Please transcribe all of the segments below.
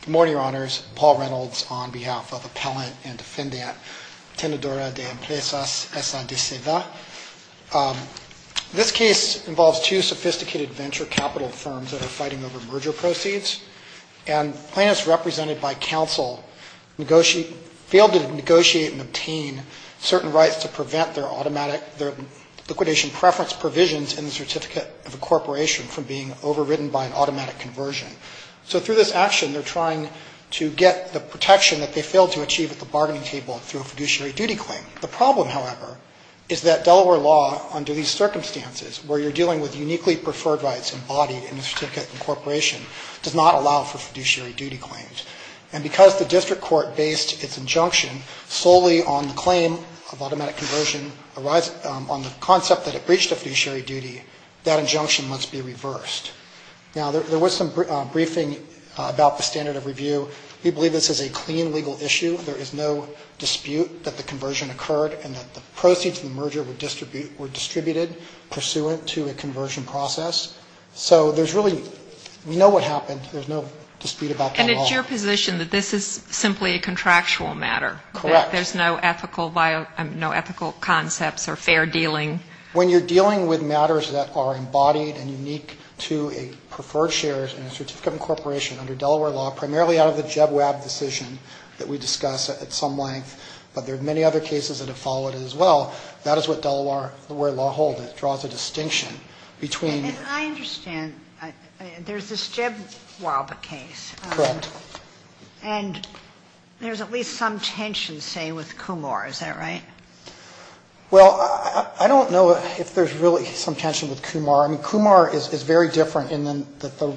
Good morning, Your Honors. Paul Reynolds on behalf of Appellant and Defendant, Tenedora de Empresas, SA, de CEDA. This case involves two sophisticated venture capital firms that are fighting over merger proceeds, and plaintiffs represented by counsel failed to negotiate and obtain certain rights to prevent their liquidation preference provisions in the Certificate of Incorporation from being overridden by an automatic conversion. So through this action, they're trying to get the protection that they failed to achieve at the bargaining table through a fiduciary duty claim. The problem, however, is that Delaware law under these circumstances, where you're dealing with uniquely preferred rights embodied in the Certificate of Incorporation, does not allow for fiduciary duty claims. And because the district court based its injunction solely on the claim of automatic conversion on the concept that it breached a fiduciary duty, that injunction must be reversed. Now, there was some briefing about the standard of review. We believe this is a clean legal issue. There is no dispute that the conversion occurred and that the proceeds of the merger were distributed pursuant to a conversion process. So there's really, we know what happened. There's no dispute about that at all. And it's your position that this is simply a contractual matter? Correct. That there's no ethical, no ethical concepts or fair dealing? When you're dealing with matters that are embodied and unique to a preferred shares in a Certificate of Incorporation under Delaware law, primarily out of the Jeb Wab decision that we discussed at some length, but there are many other cases that have followed it as well, that is what Delaware law holds. It draws a distinction between... And I understand there's this Jeb Wab case. Correct. And there's at least some tension, say, with Kumor. Is that right? Well, I don't know if there's really some tension with Kumor. I mean, Kumor is very different in that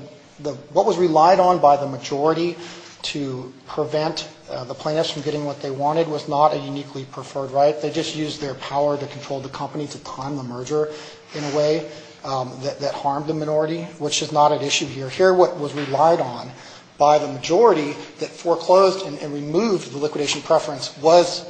what was relied on by the majority to prevent the plaintiffs from getting what they wanted was not a uniquely preferred right. They just used their power to control the company to time the merger in a way that harmed the minority, which is not at issue here. So here what was relied on by the majority that foreclosed and removed the liquidation preference was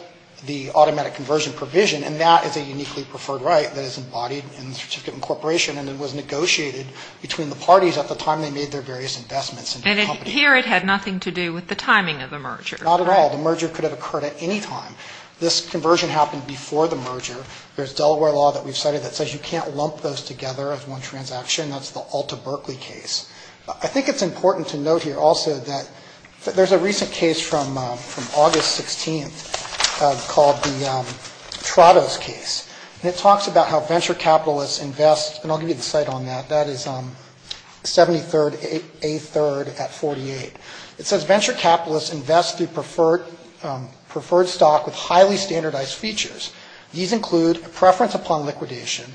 the automatic conversion provision, and that is a uniquely preferred right that is embodied in the Certificate of Incorporation, and it was negotiated between the parties at the time they made their various investments in the company. And here it had nothing to do with the timing of the merger. Not at all. The merger could have occurred at any time. This conversion happened before the merger. There's Delaware law that we've cited that says you can't lump those together as one transaction. That's the Alta Berkeley case. I think it's important to note here also that there's a recent case from August 16th called the Trottos case, and it talks about how venture capitalists invest, and I'll give you the site on that. That is 73rd A3rd at 48. It says venture capitalists invest through preferred stock with highly standardized features. These include a preference upon liquidation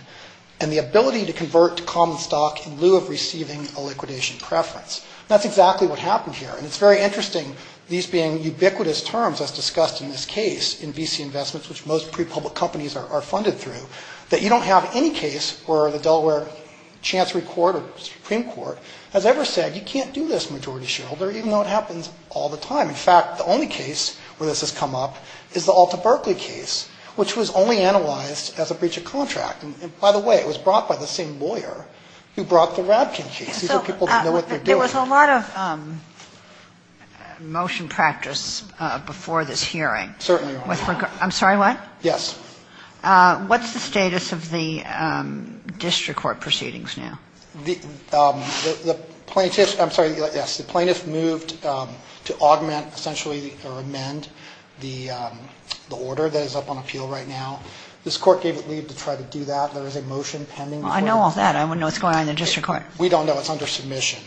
and the ability to convert to common stock in lieu of receiving a liquidation preference. That's exactly what happened here, and it's very interesting, these being ubiquitous terms as discussed in this case in VC investments, which most pre-public companies are funded through, that you don't have any case where the Delaware Chancery Court or Supreme Court has ever said you can't do this, majority shareholder, even though it happens all the time. In fact, the only case where this has come up is the Alta Berkeley case, which was only analyzed as a breach of contract. And by the way, it was brought by the same lawyer who brought the Radkin case. These are people who know what they're dealing with. There was a lot of motion practice before this hearing. Certainly. I'm sorry, what? Yes. What's the status of the district court proceedings now? The plaintiff, I'm sorry, yes, the plaintiff moved to augment essentially or amend the order that is up on appeal right now. This court gave it leave to try to do that. There is a motion pending. Well, I know all that. I wouldn't know what's going on in the district court. We don't know. It's under submission.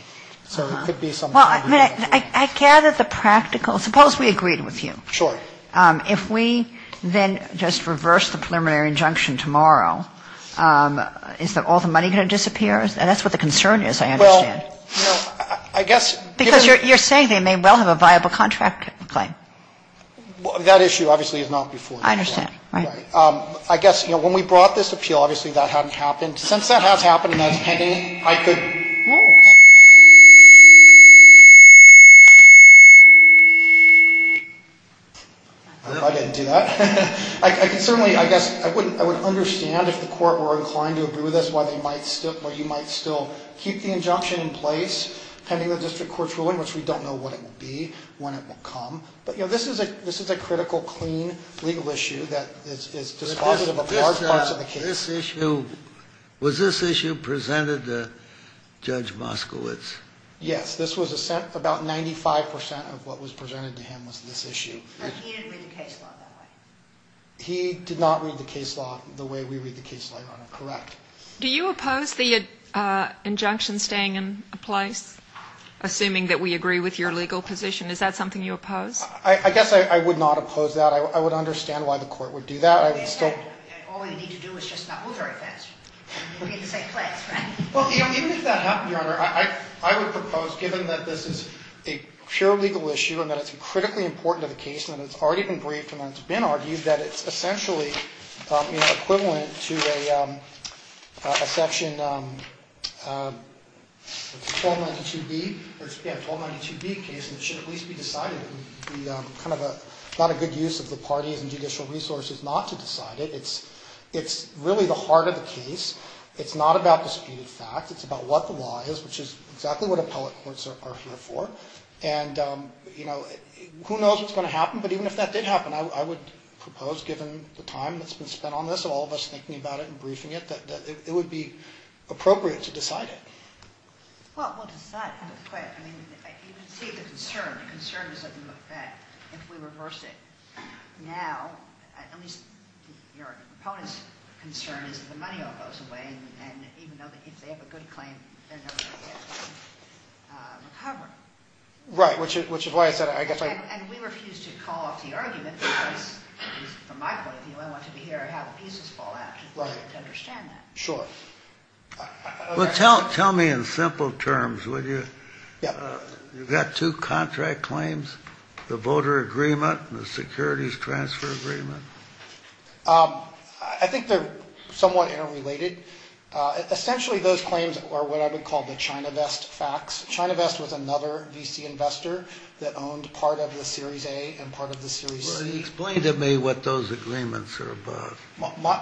So it could be something. Well, I gather the practical, suppose we agreed with you. Sure. If we then just reverse the preliminary injunction tomorrow, is all the money going to disappear? And that's what the concern is, I understand. Well, I guess. Because you're saying they may well have a viable contract claim. That issue obviously is not before you. I understand. Right. I guess when we brought this appeal, obviously that hadn't happened. Since that has happened and that's pending, I could. No. I didn't do that. I can certainly, I guess, I would understand if the court were inclined to agree with us why you might still keep the injunction in place pending the district court's ruling, which we don't know what it will be, when it will come. But, you know, this is a critical, clean legal issue that is dispositive of large parts of the case. This issue, was this issue presented to Judge Moskowitz? Yes. This was about 95 percent of what was presented to him was this issue. But he didn't read the case law that way. He did not read the case law the way we read the case law, Your Honor. Correct. Do you oppose the injunction staying in place, assuming that we agree with your legal position? Is that something you oppose? I guess I would not oppose that. I would understand why the court would do that. All we need to do is just not move very fast. We're in the same place, right? Well, even if that happened, Your Honor, I would propose, given that this is a pure case, and it's already been briefed and it's been argued, that it's essentially equivalent to a section 1292B, or it's a 1292B case, and it should at least be decided. It would be kind of not a good use of the parties and judicial resources not to decide it. It's really the heart of the case. It's not about disputed facts. It's about what the law is, which is exactly what appellate courts are here for. Who knows what's going to happen, but even if that did happen, I would propose, given the time that's been spent on this and all of us thinking about it and briefing it, that it would be appropriate to decide it. Well, we'll decide it real quick. I mean, you can see the concern. The concern is that if we reverse it now, at least your opponent's concern is that money all goes away, and even if they have a good claim, they're never going to get recovered. Right, which is why I said I guess I... And we refuse to call off the argument because, from my point of view, I want to hear how the pieces fall out to understand that. Sure. Well, tell me in simple terms, would you? Yeah. You've got two contract claims, the voter agreement and the securities transfer agreement. I think they're somewhat interrelated. Essentially, those claims are what I would call the ChinaVest facts. ChinaVest was another VC investor that owned part of the Series A and part of the Series C. Explain to me what those agreements are about.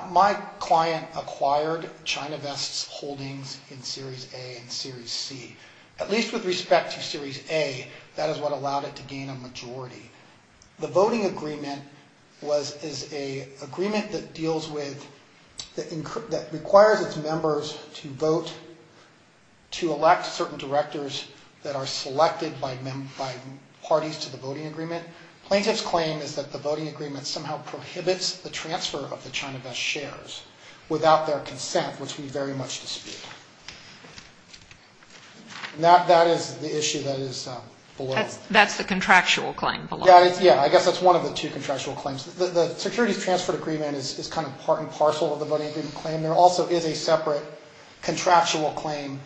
My client acquired ChinaVest's holdings in Series A and Series C. At least with respect to Series A, that is what allowed it to gain a majority. The voting agreement is an agreement that requires its members to vote to elect certain directors that are selected by parties to the voting agreement. Plaintiff's claim is that the voting agreement somehow prohibits the transfer of the ChinaVest shares without their consent, which we very much dispute. That is the issue that is below. That's the contractual claim below. Yeah. I guess that's one of the two contractual claims. The securities transfer agreement is kind of part and parcel of the voting agreement claim. There also is a separate contractual claim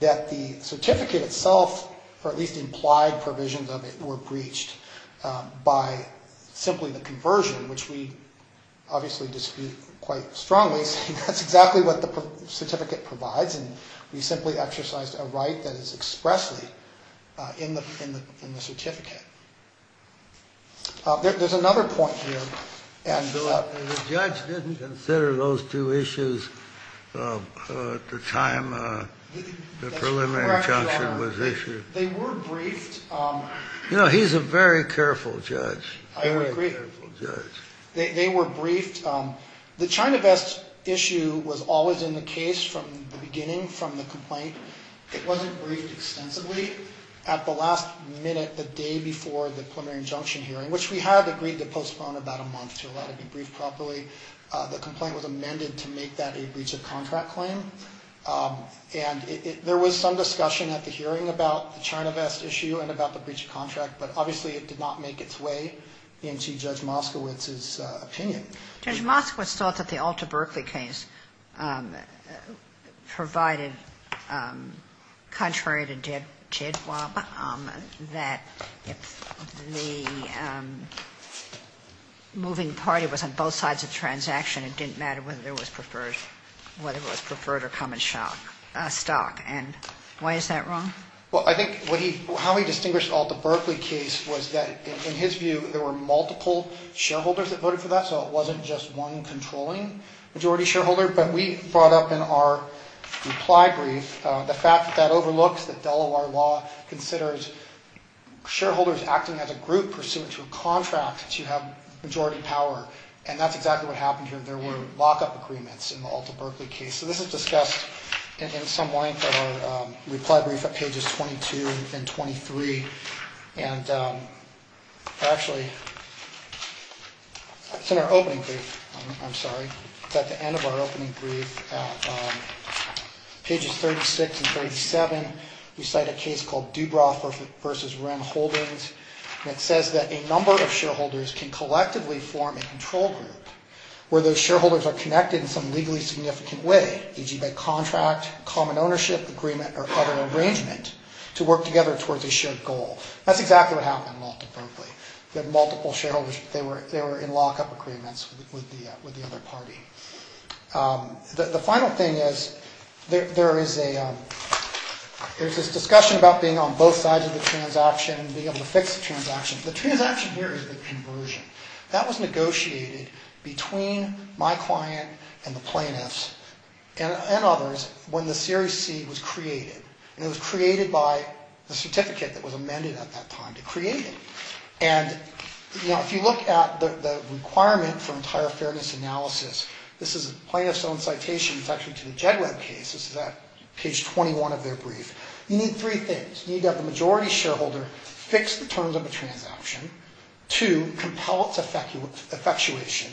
that the certificate itself, or at least implied provisions of it, were breached by simply the conversion, which we obviously dispute quite strongly, saying that's exactly what the certificate provides, and we simply exercised a right that is expressly in the certificate. There's another point here. The judge didn't consider those two issues at the time the preliminary injunction was issued. They were briefed. You know, he's a very careful judge. I agree. Very careful judge. They were briefed. The ChinaVest issue was always in the case from the beginning, from the complaint. It wasn't briefed extensively. At the last minute, the day before the preliminary injunction hearing, which we had agreed to postpone about a month to allow it to be briefed properly, the complaint was amended to make that a breach of contract claim, and there was some discussion at the hearing about the ChinaVest issue and about the breach of contract, but obviously it did not make its way into Judge Moskowitz's opinion. Judge Moskowitz thought that the Alta Berkeley case provided, contrary to Jedwab, that if the moving party was on both sides of the transaction, it didn't matter whether it was preferred or come in stock, and why is that wrong? Well, I think how he distinguished the Alta Berkeley case was that, in his view, there were multiple shareholders that voted for that, so it wasn't just one controlling majority shareholder, but we brought up in our reply brief the fact that that overlooks that Delaware law considers shareholders acting as a group pursuant to a contract to have majority power, and that's exactly what happened here. There were lockup agreements in the Alta Berkeley case, so this is discussed in some length in our reply brief at pages 22 and 23, and actually, it's in our opening brief. I'm sorry. It's at the end of our opening brief. Pages 36 and 37, we cite a case called Dubroff v. Wren Holdings, and it says that a number of shareholders can collectively form a control group where those shareholders are connected in some legally significant way, e.g. by contract, common ownership, agreement, or other arrangement to work together towards a shared goal. That's exactly what happened in Alta Berkeley. We had multiple shareholders. They were in lockup agreements with the other party. The final thing is there is this discussion about being on both sides of the transaction and being able to fix the transaction. The transaction here is the conversion. That was negotiated between my client and the plaintiffs and others when the Series C was created, and it was created by the certificate that was amended at that time to create it, and if you look at the requirement for entire fairness analysis, this is a plaintiff's own citation. It's actually to the Jed Webb case. This is at page 21 of their brief. You need three things. You need to have the majority shareholder fix the terms of the transaction to compel its effectuation,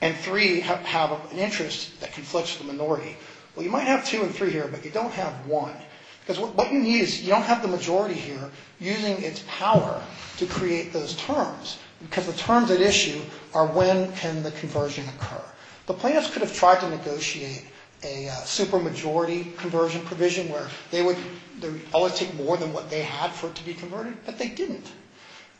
and three, have an interest that conflicts with the minority. Well, you might have two and three here, but you don't have one, because what you need is you don't have the majority here using its power to create those terms, because the terms at issue are when can the conversion occur. The plaintiffs could have tried to negotiate a super majority conversion provision where they would always take more than what they had for it to be converted, but they didn't.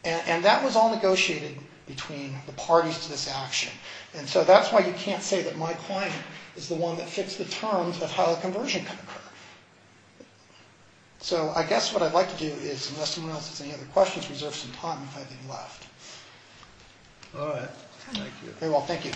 And that was all negotiated between the parties to this action, and so that's why you can't say that my client is the one that fixed the terms of how the conversion can occur. So I guess what I'd like to do is unless anyone else has any other questions, reserve some time if I have any left. All right. Thank you. Very well. Thank you.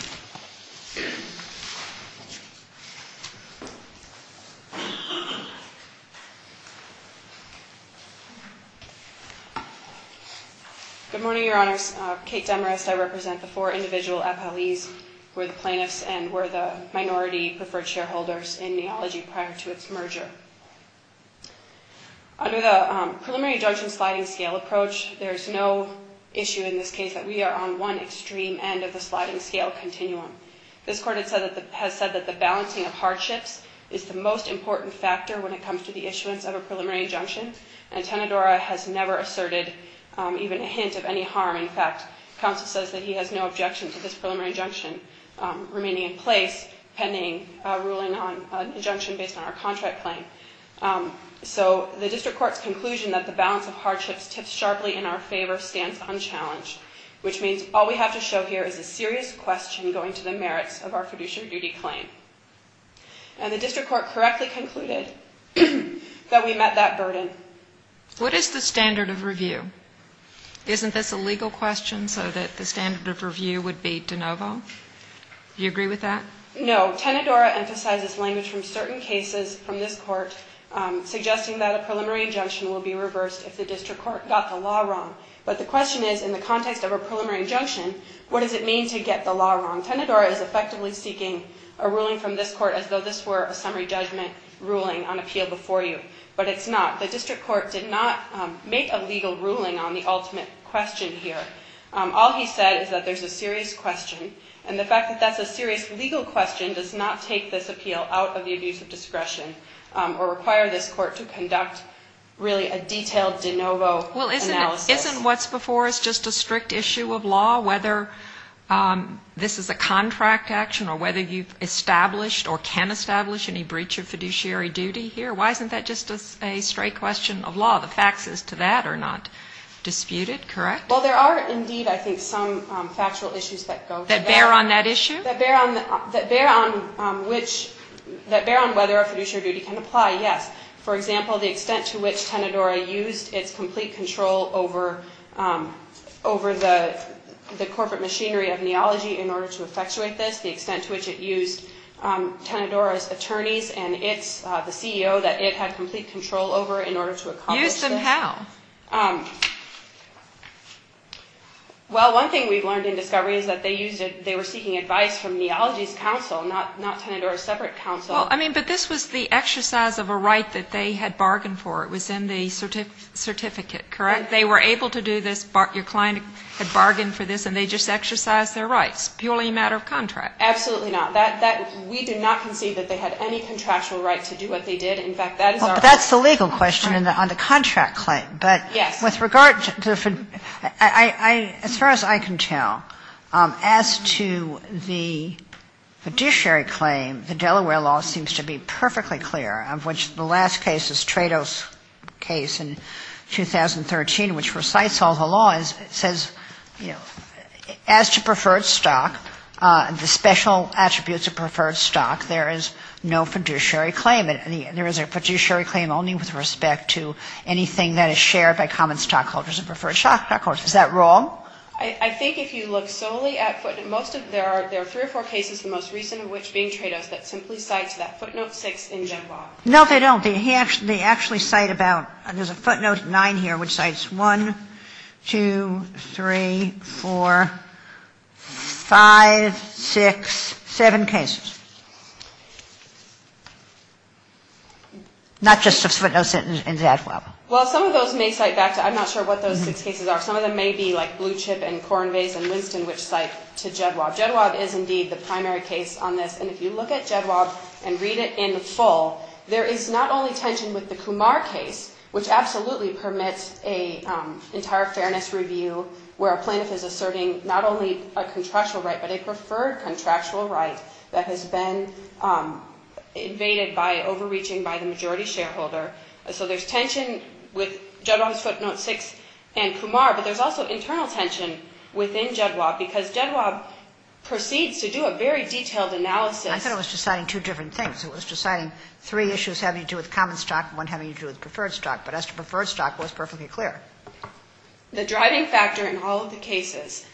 Good morning, Your Honors. Kate Demarest. I represent the four individual appellees who are the plaintiffs and were the minority preferred shareholders in neology prior to its merger. Under the preliminary judge and sliding scale approach, there's no issue in this case that we are on one extreme end of the sliding scale continuum. This court has said that the balancing of hardships is the most important factor when it comes to the issuance of a preliminary injunction, and Tenedora has never asserted even a hint of any harm. In fact, counsel says that he has no objection to this preliminary injunction remaining in place pending ruling on an injunction based on our contract claim. So the district court's conclusion that the balance of hardships tips sharply in our favor stands unchallenged, which means all we have to show here is a serious question going to the merits of our fiduciary duty claim. And the district court correctly concluded that we met that burden. What is the standard of review? Isn't this a legal question so that the standard of review would be de novo? Do you agree with that? No. Tenedora emphasizes language from certain cases from this court suggesting that a preliminary injunction will be reversed if the district court got the law wrong. But the question is, in the context of a preliminary injunction, what does it mean to get the law wrong? Tenedora is effectively seeking a ruling from this court as though this were a summary judgment ruling on appeal before you, but it's not. The district court did not make a legal ruling on the ultimate question here. All he said is that there's a serious question, and the fact that that's a serious legal question does not take this appeal out of the abuse of discretion or require this court to conduct really a detailed de novo analysis. Well, isn't what's before us just a strict issue of law, whether this is a contract action or whether you've established or can establish any breach of fiduciary duty here? Why isn't that just a straight question of law? The facts as to that are not disputed, correct? Well, there are indeed, I think, some factual issues that go to that. That bear on that issue? That bear on whether a fiduciary duty can apply, yes. For example, the extent to which Tenedora used its complete control over the corporate machinery of neology in order to effectuate this, the extent to which it had complete control over in order to accomplish this. Use them how? Well, one thing we've learned in discovery is that they were seeking advice from neology's counsel, not Tenedora's separate counsel. Well, I mean, but this was the exercise of a right that they had bargained for. It was in the certificate, correct? They were able to do this. Your client had bargained for this, and they just exercised their rights, purely a matter of contract. Absolutely not. We do not concede that they had any contractual right to do what they did. In fact, that is our argument. But that's the legal question on the contract claim. Yes. But with regard to the fiduciary, as far as I can tell, as to the fiduciary claim, the Delaware law seems to be perfectly clear, of which the last case is Trado's case in 2013, which recites all the laws. It says, you know, as to preferred stock, the special attributes of preferred stock, there is no fiduciary claim. There is a fiduciary claim only with respect to anything that is shared by common stockholders and preferred stockholders. Is that wrong? I think if you look solely at footnotes, there are three or four cases, the most recent of which being Trado's, that simply cite that footnote 6 in general. No, they don't. They actually cite about, there's a footnote 9 here, which cites 1, 2, 3, 4, 5, 6, 7 cases. Not just of footnotes in Jedwab. Well, some of those may cite back to, I'm not sure what those six cases are. Some of them may be like Blue Chip and Corn Vase and Winston, which cite to Jedwab. Jedwab is indeed the primary case on this. And if you look at Jedwab and read it in full, there is not only tension with the Kumar case, which absolutely permits an entire fairness review where a plaintiff is asserting not only a contractual right, but a preferred contractual right that has been invaded by overreaching by the majority shareholder. So there's tension with Jedwab's footnote 6 and Kumar, but there's also internal tension within Jedwab because Jedwab proceeds to do a very detailed analysis. I thought it was deciding two different things. It was deciding three issues having to do with common stock and one having to do with preferred stock. But as to preferred stock, it was perfectly clear. The driving factor in all of the cases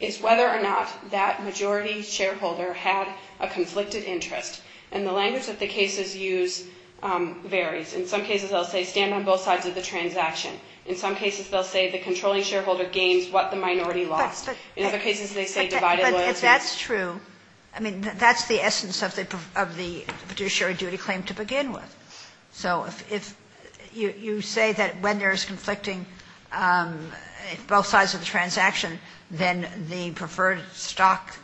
is whether or not that majority shareholder had a conflicted interest. And the language that the cases use varies. In some cases, they'll say stand on both sides of the transaction. In some cases, they'll say the controlling shareholder gains what the minority lost. In other cases, they say divided loyalty. But if that's true, I mean, that's the essence of the fiduciary duty claim to begin with. So if you say that when there's conflicting both sides of the transaction, then the preferred stock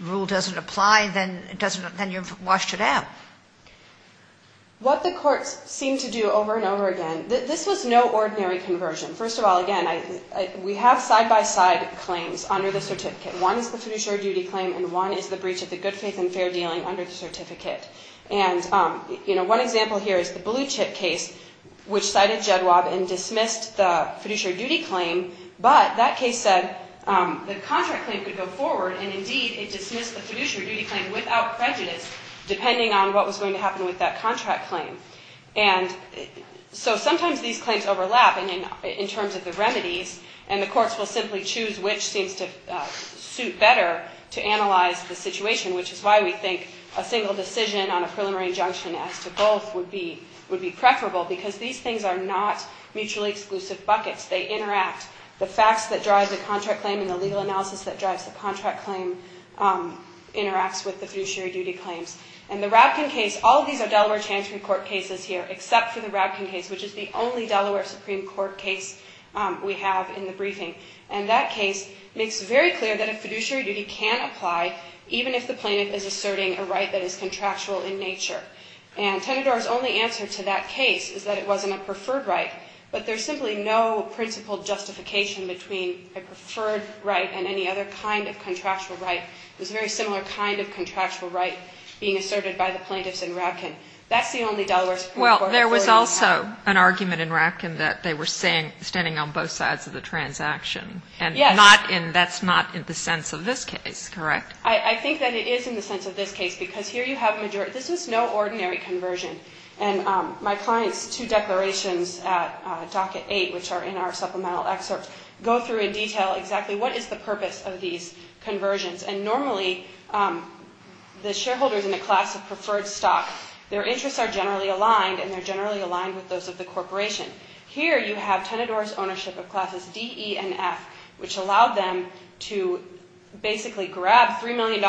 rule doesn't apply, then you've washed it out. What the courts seem to do over and over again, this was no ordinary conversion. First of all, again, we have side-by-side claims under the certificate. One is the fiduciary duty claim and one is the breach of the good faith and fair judgment certificate. And, you know, one example here is the blue chip case, which cited JEDWAB and dismissed the fiduciary duty claim. But that case said the contract claim could go forward. And, indeed, it dismissed the fiduciary duty claim without prejudice, depending on what was going to happen with that contract claim. And so sometimes these claims overlap in terms of the remedies. And the courts will simply choose which seems to suit better to analyze the single decision on a preliminary injunction as to both would be preferable because these things are not mutually exclusive buckets. They interact. The facts that drive the contract claim and the legal analysis that drives the contract claim interacts with the fiduciary duty claims. And the Rabkin case, all of these are Delaware Chancery Court cases here, except for the Rabkin case, which is the only Delaware Supreme Court case we have in the briefing. And that case makes very clear that a fiduciary duty can apply even if the claim is contractual in nature. And Tenedor's only answer to that case is that it wasn't a preferred right. But there's simply no principled justification between a preferred right and any other kind of contractual right. It was a very similar kind of contractual right being asserted by the plaintiffs in Rabkin. That's the only Delaware Supreme Court authority we have. Well, there was also an argument in Rabkin that they were standing on both sides of the transaction. Yes. And that's not in the sense of this case, correct? I think that it is in the sense of this case because here you have a majority. This was no ordinary conversion. And my client's two declarations at docket 8, which are in our supplemental excerpt, go through in detail exactly what is the purpose of these conversions. And normally the shareholders in a class of preferred stock, their interests are generally aligned and they're generally aligned with those of the corporation. Here you have Tenedor's ownership of classes D, E, and F, which allowed them to basically grab $3 million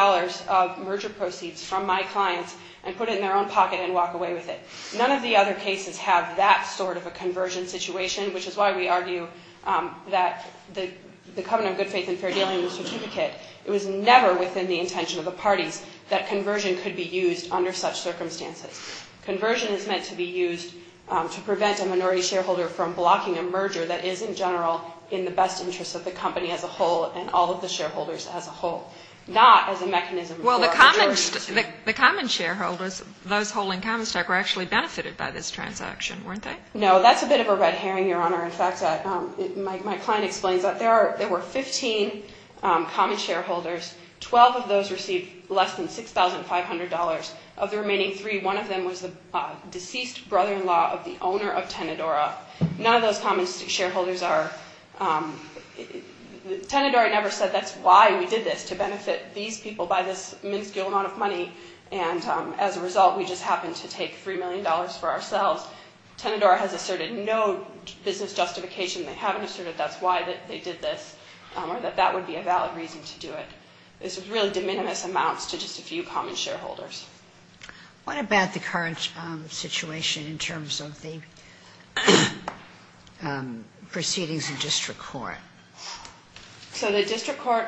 of merger proceeds from my clients and put it in their own pocket and walk away with it. None of the other cases have that sort of a conversion situation, which is why we argue that the covenant of good faith and fair dealing in the certificate, it was never within the intention of the parties that conversion could be used under such circumstances. Conversion is meant to be used to prevent a minority shareholder from blocking a merger that is in general in the best interest of the company as a whole and all of the shareholders as a whole, not as a mechanism. Well, the common shareholders, those holding common stock, were actually benefited by this transaction, weren't they? No, that's a bit of a red herring, Your Honor. In fact, my client explains that there were 15 common shareholders. Twelve of those received less than $6,500. Of the remaining three, one of them was the deceased brother-in-law of the owner of Tenedora. None of those common shareholders are – Tenedora never said that's why we did this, to benefit these people by this minuscule amount of money, and as a result we just happened to take $3 million for ourselves. Tenedora has asserted no business justification. They haven't asserted that's why they did this or that that would be a valid reason to do it. It's really de minimis amounts to just a few common shareholders. What about the current situation in terms of the proceedings in district court? So the district court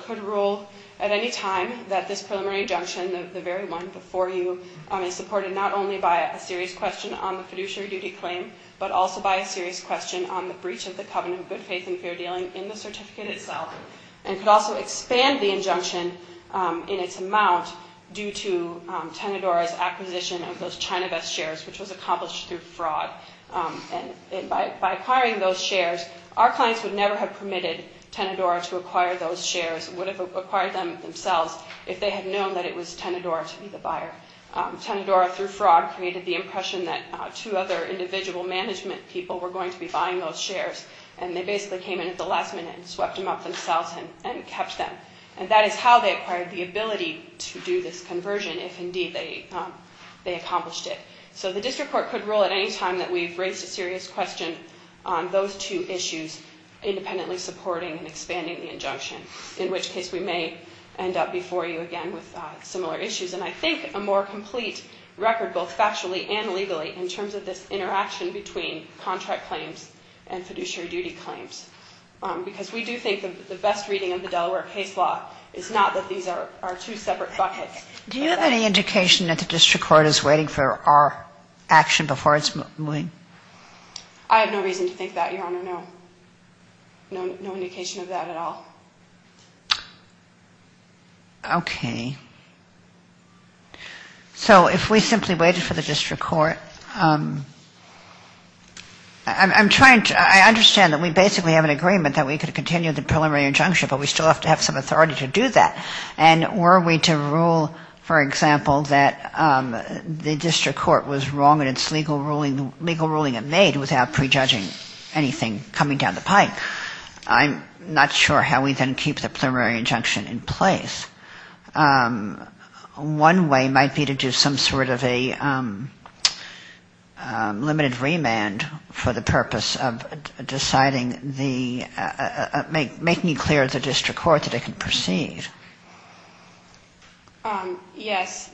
could rule at any time that this preliminary injunction, the very one before you, is supported not only by a serious question on the fiduciary duty claim, but also by a serious question on the breach of the covenant of good faith and fair dealing in the certificate itself, and could also expand the injunction in its amount due to Tenedora's acquisition of those ChinaVest shares, which was accomplished through fraud. And by acquiring those shares, our clients would never have permitted Tenedora to acquire those shares, would have acquired them themselves if they had known that it was Tenedora to be the buyer. Tenedora, through fraud, created the impression that two other individual management people were going to be buying those shares, and they basically came in at the last minute and swept them up themselves and kept them. And that is how they acquired the ability to do this conversion, if indeed they accomplished it. So the district court could rule at any time that we've raised a serious question on those two issues, independently supporting and expanding the injunction, in which case we may end up before you again with similar issues. And I think a more complete record, both factually and legally, in terms of this interaction between contract claims and fiduciary duty claims, because we do think the best reading of the Delaware case law is not that these are two separate buckets. Do you have any indication that the district court is waiting for our action before it's moving? I have no reason to think that, Your Honor, no. No indication of that at all. Okay. So if we simply waited for the district court. I'm trying to, I understand that we basically have an agreement that we could continue the preliminary injunction, but we still have to have some authority to do that. And were we to rule, for example, that the district court was wrong in its legal ruling and made without prejudging anything coming down the pike, I'm not sure how we then keep the preliminary injunction in place. One way might be to do some sort of a limited remand for the purpose of deciding the, making clear to the district court that it can proceed. Yes.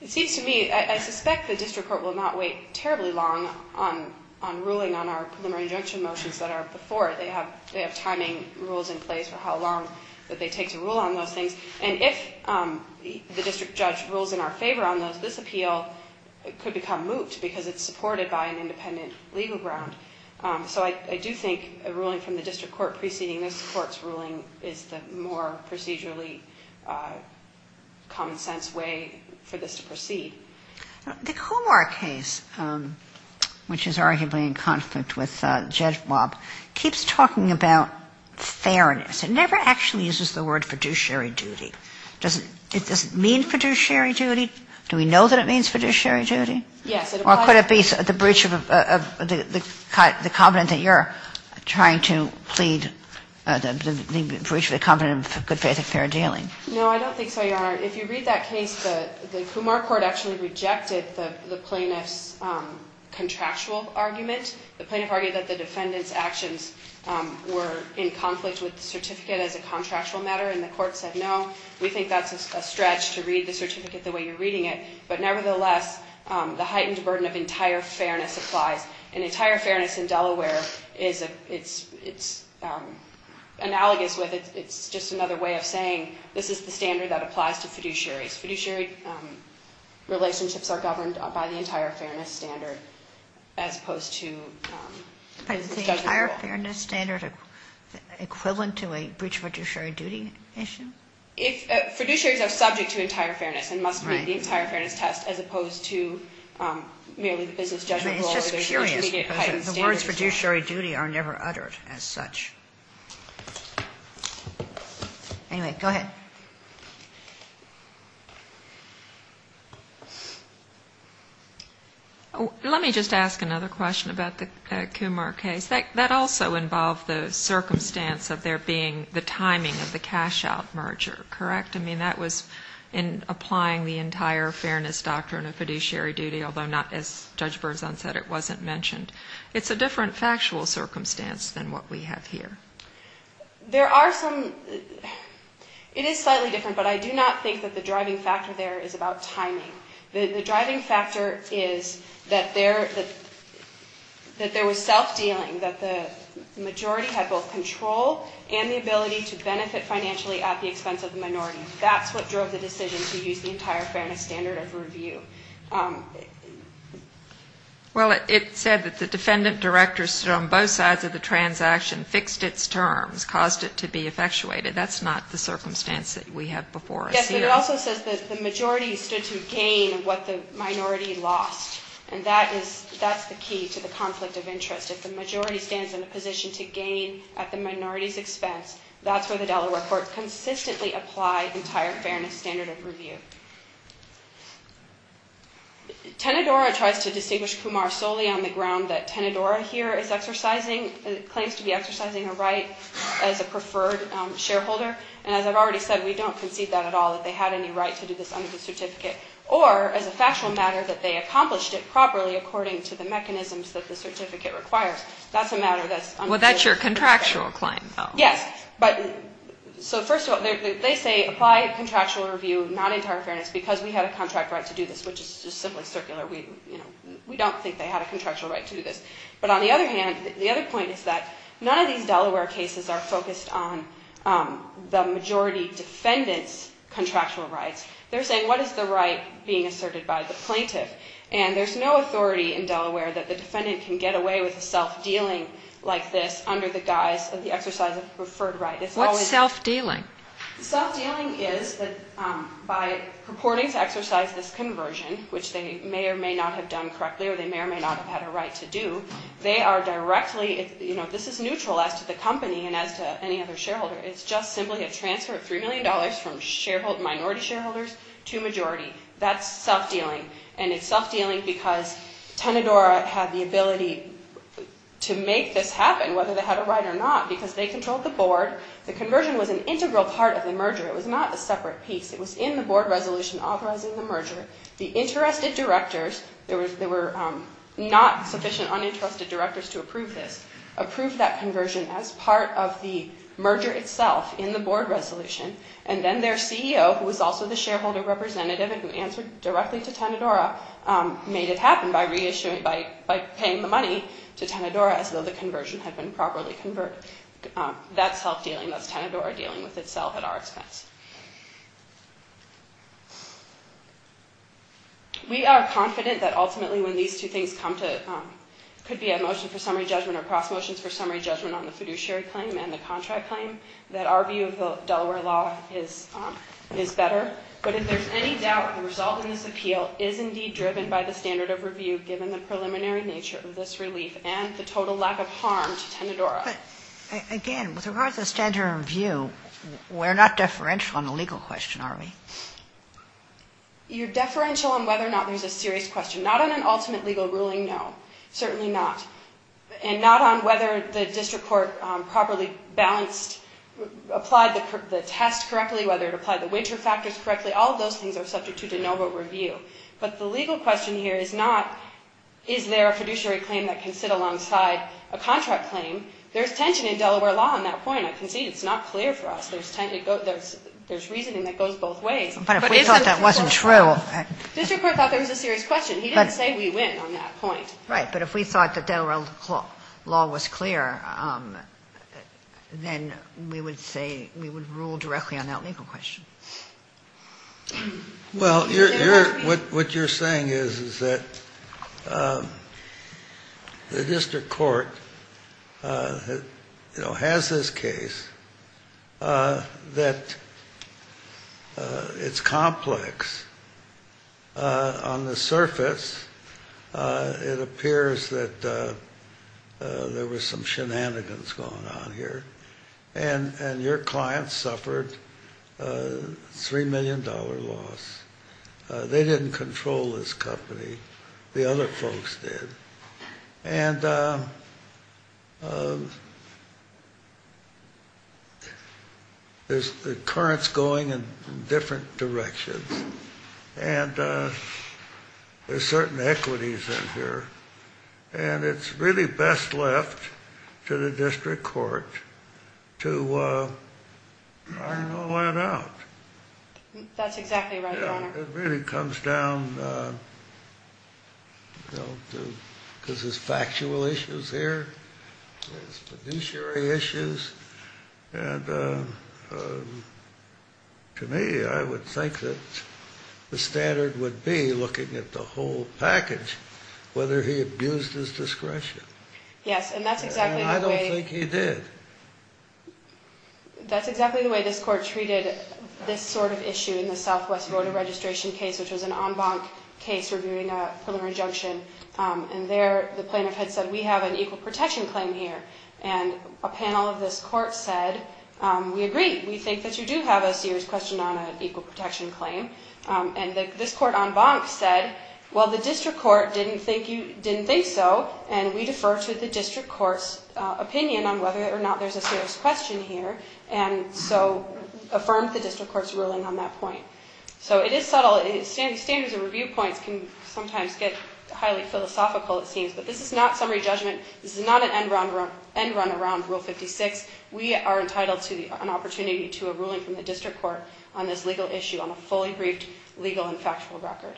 It seems to me, I suspect the district court will not wait terribly long on ruling on our preliminary injunction motions that are before. They have timing rules in place for how long that they take to rule on those things. And if the district judge rules in our favor on those, this appeal could become moot because it's supported by an independent legal ground. So I do think a ruling from the district court preceding this court's ruling is the more procedurally common-sense way for this to proceed. The Comar case, which is arguably in conflict with JEDMOP, keeps people from talking about fairness. It never actually uses the word fiduciary duty. Does it mean fiduciary duty? Do we know that it means fiduciary duty? Yes. Or could it be the breach of the covenant that you're trying to plead, the breach of the covenant of good faith and fair dealing? No, I don't think so, Your Honor. If you read that case, the Comar court actually rejected the plaintiff's contractual argument. The plaintiff argued that the defendant's actions were in conflict with the certificate as a contractual matter, and the court said no. We think that's a stretch to read the certificate the way you're reading it. But nevertheless, the heightened burden of entire fairness applies. And entire fairness in Delaware is analogous with it. It's just another way of saying this is the standard that applies to fiduciaries. Fiduciary relationships are governed by the entire fairness standard as opposed to the business judgment rule. But is the entire fairness standard equivalent to a breach of fiduciary duty issue? Fiduciaries are subject to entire fairness and must meet the entire fairness test as opposed to merely the business judgment rule. It's just curious because the words fiduciary duty are never uttered as such. Anyway, go ahead. Let me just ask another question about the Comar case. That also involved the circumstance of there being the timing of the cash-out merger, correct? I mean, that was in applying the entire fairness doctrine of fiduciary duty, although not as Judge Berzon said, it wasn't mentioned. It's a different factual circumstance than what we have here. There are some, it is slightly different, but I do not think that the driving factor there is about timing. The driving factor is that there was self-dealing, that the majority had both control and the ability to benefit financially at the expense of the minority. That's what drove the decision to use the entire fairness standard of review. Well, it said that the defendant-director stood on both sides of the transaction, fixed its terms, caused it to be effectuated. That's not the circumstance that we have before us here. Yes, but it also says that the majority stood to gain what the minority lost, and that is, that's the key to the conflict of interest. If the majority stands in a position to gain at the minority's expense, that's where the Delaware court consistently applied entire fairness standard of review. Tenedora tries to distinguish Comar solely on the ground that Tenedora here is exercising, claims to be exercising a right as a preferred shareholder. And as I've already said, we don't concede that at all, that they had any right to do this under the certificate, or as a factual matter, that they accomplished it properly according to the mechanisms that the certificate requires. That's a matter that's under the certificate. Well, that's your contractual claim, though. Yes, but, so first of all, they say apply contractual review, not entire fairness, because we had a contract right to do this, which is just simply circular. We don't think they had a contractual right to do this. But on the other hand, the other point is that none of these Delaware cases are focused on the majority defendant's contractual rights. They're saying, what is the right being asserted by the plaintiff? And there's no authority in Delaware that the defendant can get away with a self-dealing like this under the guise of the exercise of a preferred right. What's self-dealing? Self-dealing is that by purporting to exercise this conversion, which they may or may not have done correctly or they may or may not have had a right to do, they are directly, you know, this is neutral as to the company and as to any other shareholder. It's just simply a transfer of $3 million from minority shareholders to majority. That's self-dealing. And it's self-dealing because Tenedora had the ability to make this happen, whether they had a right or not, because they controlled the board. The conversion was an integral part of the merger. It was not a separate piece. It was in the board resolution authorizing the merger. The interested directors, there were not sufficient uninterested directors to approve this, approved that conversion as part of the merger itself in the board resolution. And then their CEO, who was also the shareholder representative and who answered directly to Tenedora, made it happen by paying the money to Tenedora as though the conversion had been properly converted. That's self-dealing. That's Tenedora dealing with itself at our expense. We are confident that ultimately when these two things come to, could be a motion for summary judgment or cross motions for summary judgment on the fiduciary claim and the contract claim, that our view of Delaware law is better. But if there's any doubt, the result of this appeal is indeed driven by the standard of review given the preliminary nature of this relief and the total lack of harm to Tenedora. But again, with regard to the standard of review, we're not deferential on the legal question, are we? You're deferential on whether or not there's a serious question. Not on an ultimate legal ruling, no. Certainly not. And not on whether the district court properly balanced, applied the test correctly, whether it applied the winter factors correctly. All of those things are subject to de novo review. But the legal question here is not is there a fiduciary claim that can sit alongside a contract claim. There's tension in Delaware law on that point. I concede it's not clear for us. There's reasoning that goes both ways. But isn't the district court. But if we thought that wasn't true. The district court thought there was a serious question. He didn't say we win on that point. Right. But if we thought that Delaware law was clear, then we would say we would rule directly on that legal question. Well, what you're saying is, is that the district court, you know, has this case that it's complex. On the surface, it appears that there were some shenanigans going on here. And your clients suffered a $3 million loss. They didn't control this company. The other folks did. And there's currents going in different directions. And there's certain equities in here. And it's really best left to the district court to iron all that out. That's exactly right, Your Honor. It really comes down to, because there's factual issues here. There's fiduciary issues. And to me, I would think that the standard would be, looking at the whole case, that the district court used his discretion. Yes. And that's exactly the way. And I don't think he did. That's exactly the way this court treated this sort of issue in the Southwest Voter Registration case, which was an en banc case reviewing a preliminary injunction. And there, the plaintiff had said, we have an equal protection claim here. And a panel of this court said, we agree. We think that you do have a serious question on an equal protection claim. And this court en banc said, well, the district court didn't think so. And we defer to the district court's opinion on whether or not there's a serious question here. And so affirmed the district court's ruling on that point. So it is subtle. Standards and review points can sometimes get highly philosophical, it seems. But this is not summary judgment. This is not an end run around Rule 56. We are entitled to an opportunity to a ruling from the district court on this legal issue on a fully briefed legal and factual record.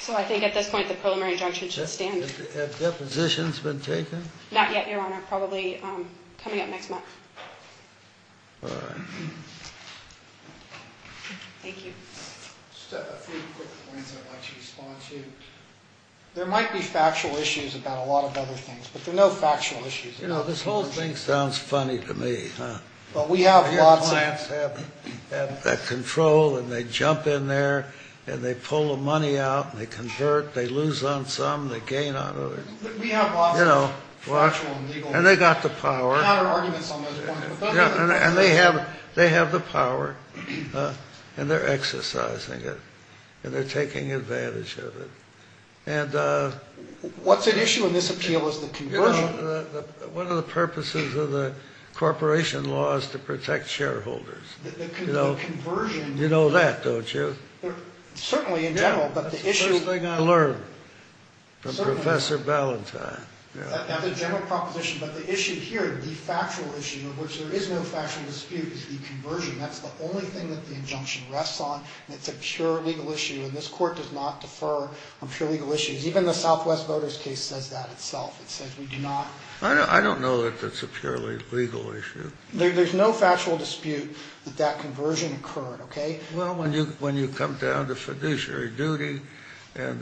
So I think at this point, the preliminary injunction should stand. Have depositions been taken? Not yet, Your Honor. Probably coming up next month. All right. Thank you. Just a few quick points I'd like to respond to. There might be factual issues about a lot of other things. But there are no factual issues. You know, this whole thing sounds funny to me. But we have lots of them. The clients have control and they jump in there and they pull the money out and they convert. They lose on some, they gain on others. We have lots of factual and legal. And they've got the power. We've had our arguments on those points. And they have the power. And they're exercising it. And they're taking advantage of it. And what's at issue in this appeal is the conversion. One of the purposes of the corporation law is to protect shareholders. The conversion. You know that, don't you? Certainly in general. That's the first thing I learned from Professor Ballantyne. That's a general proposition. But the issue here, the factual issue of which there is no factual dispute, is the conversion. That's the only thing that the injunction rests on. And it's a pure legal issue. And this court does not defer on pure legal issues. Even the Southwest voters case says that itself. It says we do not. I don't know that that's a purely legal issue. There's no factual dispute that that conversion occurred, okay? Well, when you come down to fiduciary duty and...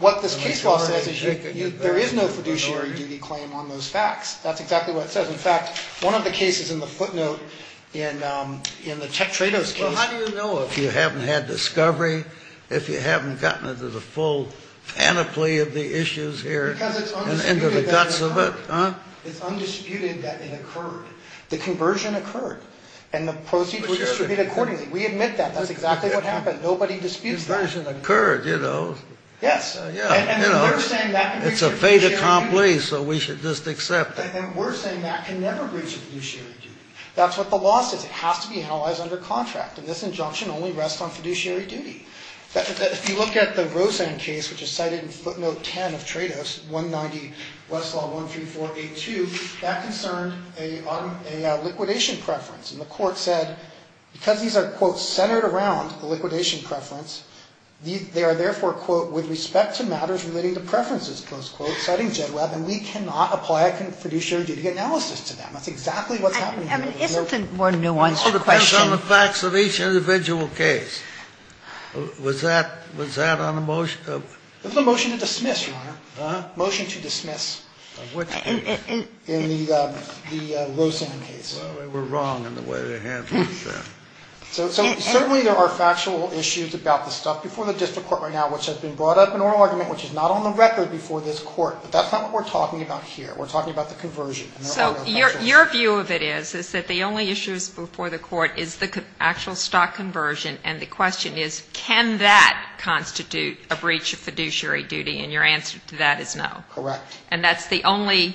What this case law says is there is no fiduciary duty claim on those facts. That's exactly what it says. In fact, one of the cases in the footnote in the Chuck Trados case... Well, how do you know if you haven't had discovery, if you haven't gotten into the full panoply of the issues here... Because it's undisputed... ...and into the guts of it, huh? It's undisputed that it occurred. The conversion occurred. And the proceeds were distributed accordingly. We admit that. That's exactly what happened. Nobody disputes that. The conversion occurred, you know. Yes. Yeah, you know. And we're saying that... It's a fait accompli, so we should just accept it. And we're saying that can never breach fiduciary duty. That's what the law says. It has to be analyzed under contract. And this injunction only rests on fiduciary duty. If you look at the Rosanne case, which is cited in footnote 10 of Trados, 190 Westlaw 13482, that concerned a liquidation preference. And the Court said, because these are, quote, centered around the liquidation preference, they are therefore, quote, with respect to matters relating to preferences, close quote, citing Jedwab, and we cannot apply a fiduciary duty analysis to them. That's exactly what's happening here. I mean, isn't the more nuanced question... Was that on a motion? It was a motion to dismiss, Your Honor. Motion to dismiss. In which case? In the Rosanne case. Well, we were wrong in the way they handled that. So certainly there are factual issues about the stuff before the district court right now, which has been brought up in oral argument, which is not on the record before this court, but that's not what we're talking about here. We're talking about the conversion. So your view of it is, is that the only issues before the court is the actual stock conversion, and the question is, can that constitute a breach of fiduciary duty? And your answer to that is no. Correct. And that's the only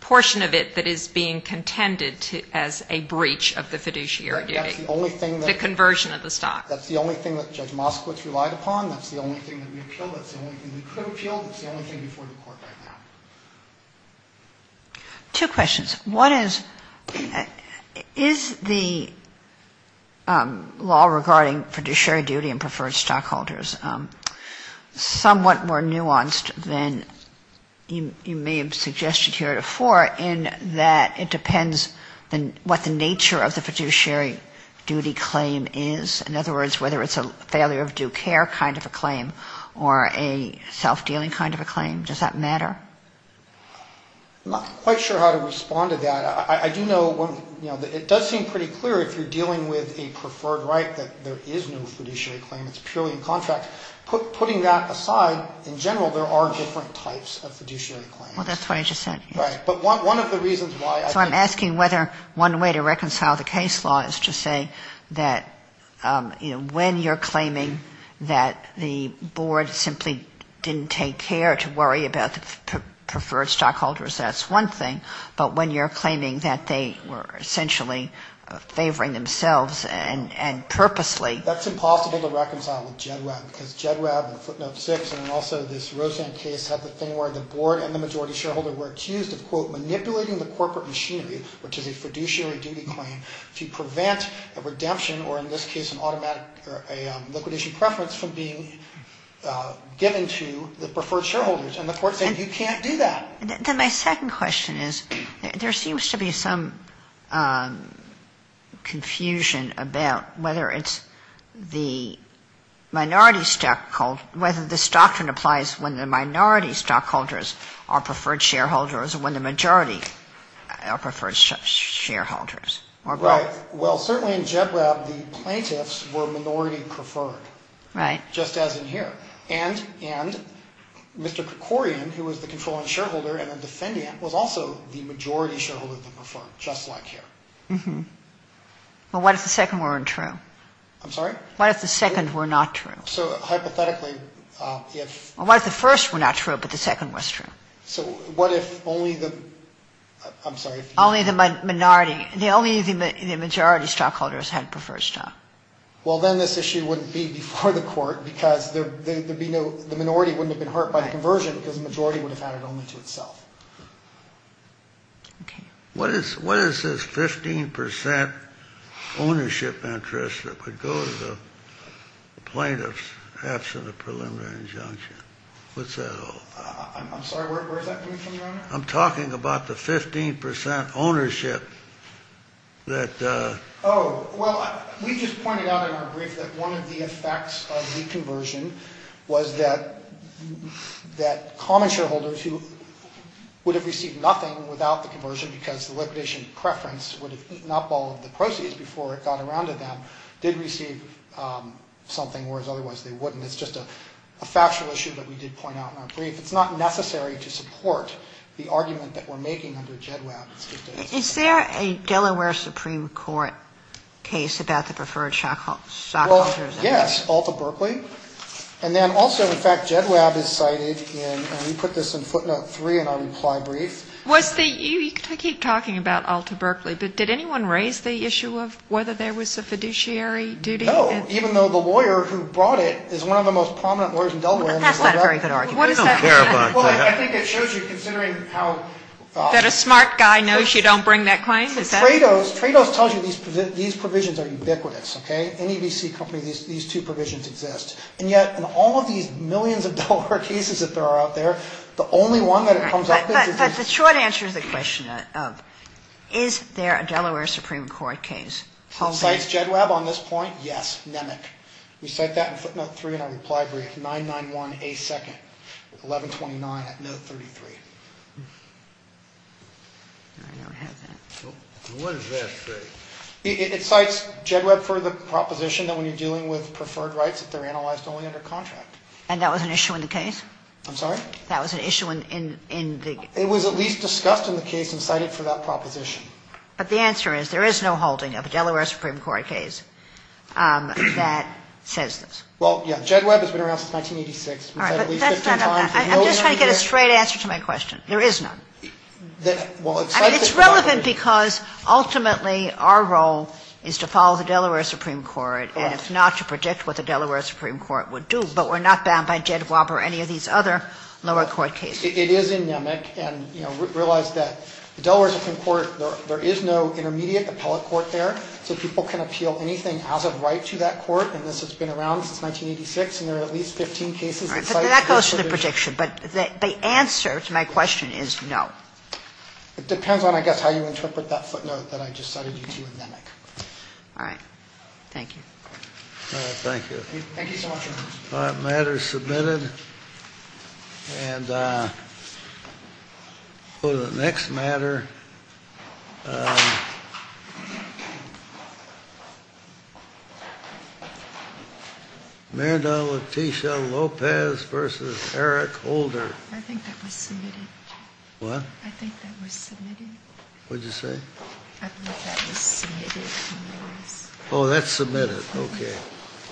portion of it that is being contended as a breach of the fiduciary duty. That's the only thing that... The conversion of the stock. That's the only thing that Judge Moskowitz relied upon. That's the only thing that we appealed. That's the only thing we could have appealed. That's the only thing before the court right now. Two questions. One is, is the law regarding fiduciary duty and preferred stockholders somewhat more nuanced than you may have suggested here before in that it depends what the nature of the fiduciary duty claim is? In other words, whether it's a failure of due care kind of a claim or a self-dealing kind of a claim? Does that matter? I'm not quite sure how to respond to that. I do know it does seem pretty clear if you're dealing with a preferred right that there is no fiduciary claim. It's purely a contract. Putting that aside, in general, there are different types of fiduciary claims. Well, that's what I just said. Right. But one of the reasons why... So I'm asking whether one way to reconcile the case law is to say that when you're claiming that the preferred stockholders, that's one thing, but when you're claiming that they were essentially favoring themselves and purposely... That's impossible to reconcile with GEDREB because GEDREB and Footnote 6 and also this Rosanne case have the thing where the board and the majority shareholder were accused of, quote, manipulating the corporate machinery, which is a fiduciary duty claim, to prevent a redemption or in this case an automatic or a liquid issue preference from being given to the preferred shareholders. And the court said you can't do that. Then my second question is there seems to be some confusion about whether it's the minority stockholder, whether this doctrine applies when the minority stockholders are preferred shareholders or when the majority are preferred shareholders or both. Right. Well, certainly in GEDREB the plaintiffs were minority preferred. Right. Just as in here. And Mr. Krikorian, who was the controlling shareholder and a defendant, was also the majority shareholder than preferred, just like here. Mm-hmm. Well, what if the second weren't true? I'm sorry? What if the second were not true? So, hypothetically, if... Well, what if the first were not true but the second was true? So what if only the... I'm sorry. Only the minority, only the majority stockholders had preferred stock. Well, then this issue wouldn't be before the court because the minority wouldn't have been hurt by the conversion because the majority would have had it only to itself. Okay. What is this 15 percent ownership interest that would go to the plaintiffs absent a preliminary injunction? What's that all about? I'm sorry. Where is that coming from, Your Honor? I'm talking about the 15 percent ownership that... Oh, well, we just pointed out in our brief that one of the effects of the conversion was that common shareholders who would have received nothing without the conversion because the liquidation preference would have eaten up all of the proceeds before it got around to them did receive something, whereas otherwise they wouldn't. It's just a factual issue that we did point out in our brief. It's not necessary to support the argument that we're making under JEDWAB. Is there a Delaware Supreme Court case about the preferred stockholders? Well, yes, Alta Berkeley. And then also, in fact, JEDWAB is cited in, and we put this in footnote three in our reply brief. Was the, you keep talking about Alta Berkeley, but did anyone raise the issue of whether there was a fiduciary duty? No, even though the lawyer who brought it is one of the most prominent lawyers in Delaware. That's not a very good argument. What is that? Well, I think it shows you considering how... Is that a smart guy knows you don't bring that claim? Trados tells you these provisions are ubiquitous, okay? Any VC company, these two provisions exist. And yet in all of these millions of Delaware cases that there are out there, the only one that comes up is... But the short answer to the question of is there a Delaware Supreme Court case? Cites JEDWAB on this point? Yes, NEMIC. We cite that in footnote three in our reply brief, 991A2nd, 1129 at note 33. I never had that. What does that say? It cites JEDWAB for the proposition that when you're dealing with preferred rights that they're analyzed only under contract. And that was an issue in the case? I'm sorry? That was an issue in the... It was at least discussed in the case and cited for that proposition. But the answer is there is no holding of a Delaware Supreme Court case that says this. Well, yeah. JEDWAB has been around since 1986. All right. But that's not all that. I'm just trying to get a straight answer to my question. There is none. I mean, it's relevant because ultimately our role is to follow the Delaware Supreme Court and if not, to predict what the Delaware Supreme Court would do. But we're not bound by JEDWAB or any of these other lower court cases. It is in NEMIC and realize that the Delaware Supreme Court, there is no intermediate appellate court there. So people can appeal anything as of right to that court. And this has been around since 1986. And there are at least 15 cases. All right. But that goes to the prediction. But the answer to my question is no. It depends on, I guess, how you interpret that footnote that I just cited you to in NEMIC. Thank you. All right. Thank you. Thank you so much, Your Honor. All right. The matter is submitted. And we'll go to the next matter. Miranda Leticia Lopez v. Eric Holder. I think that was submitted. What? I think that was submitted. What did you say? I believe that was submitted. Oh, that's submitted. Okay.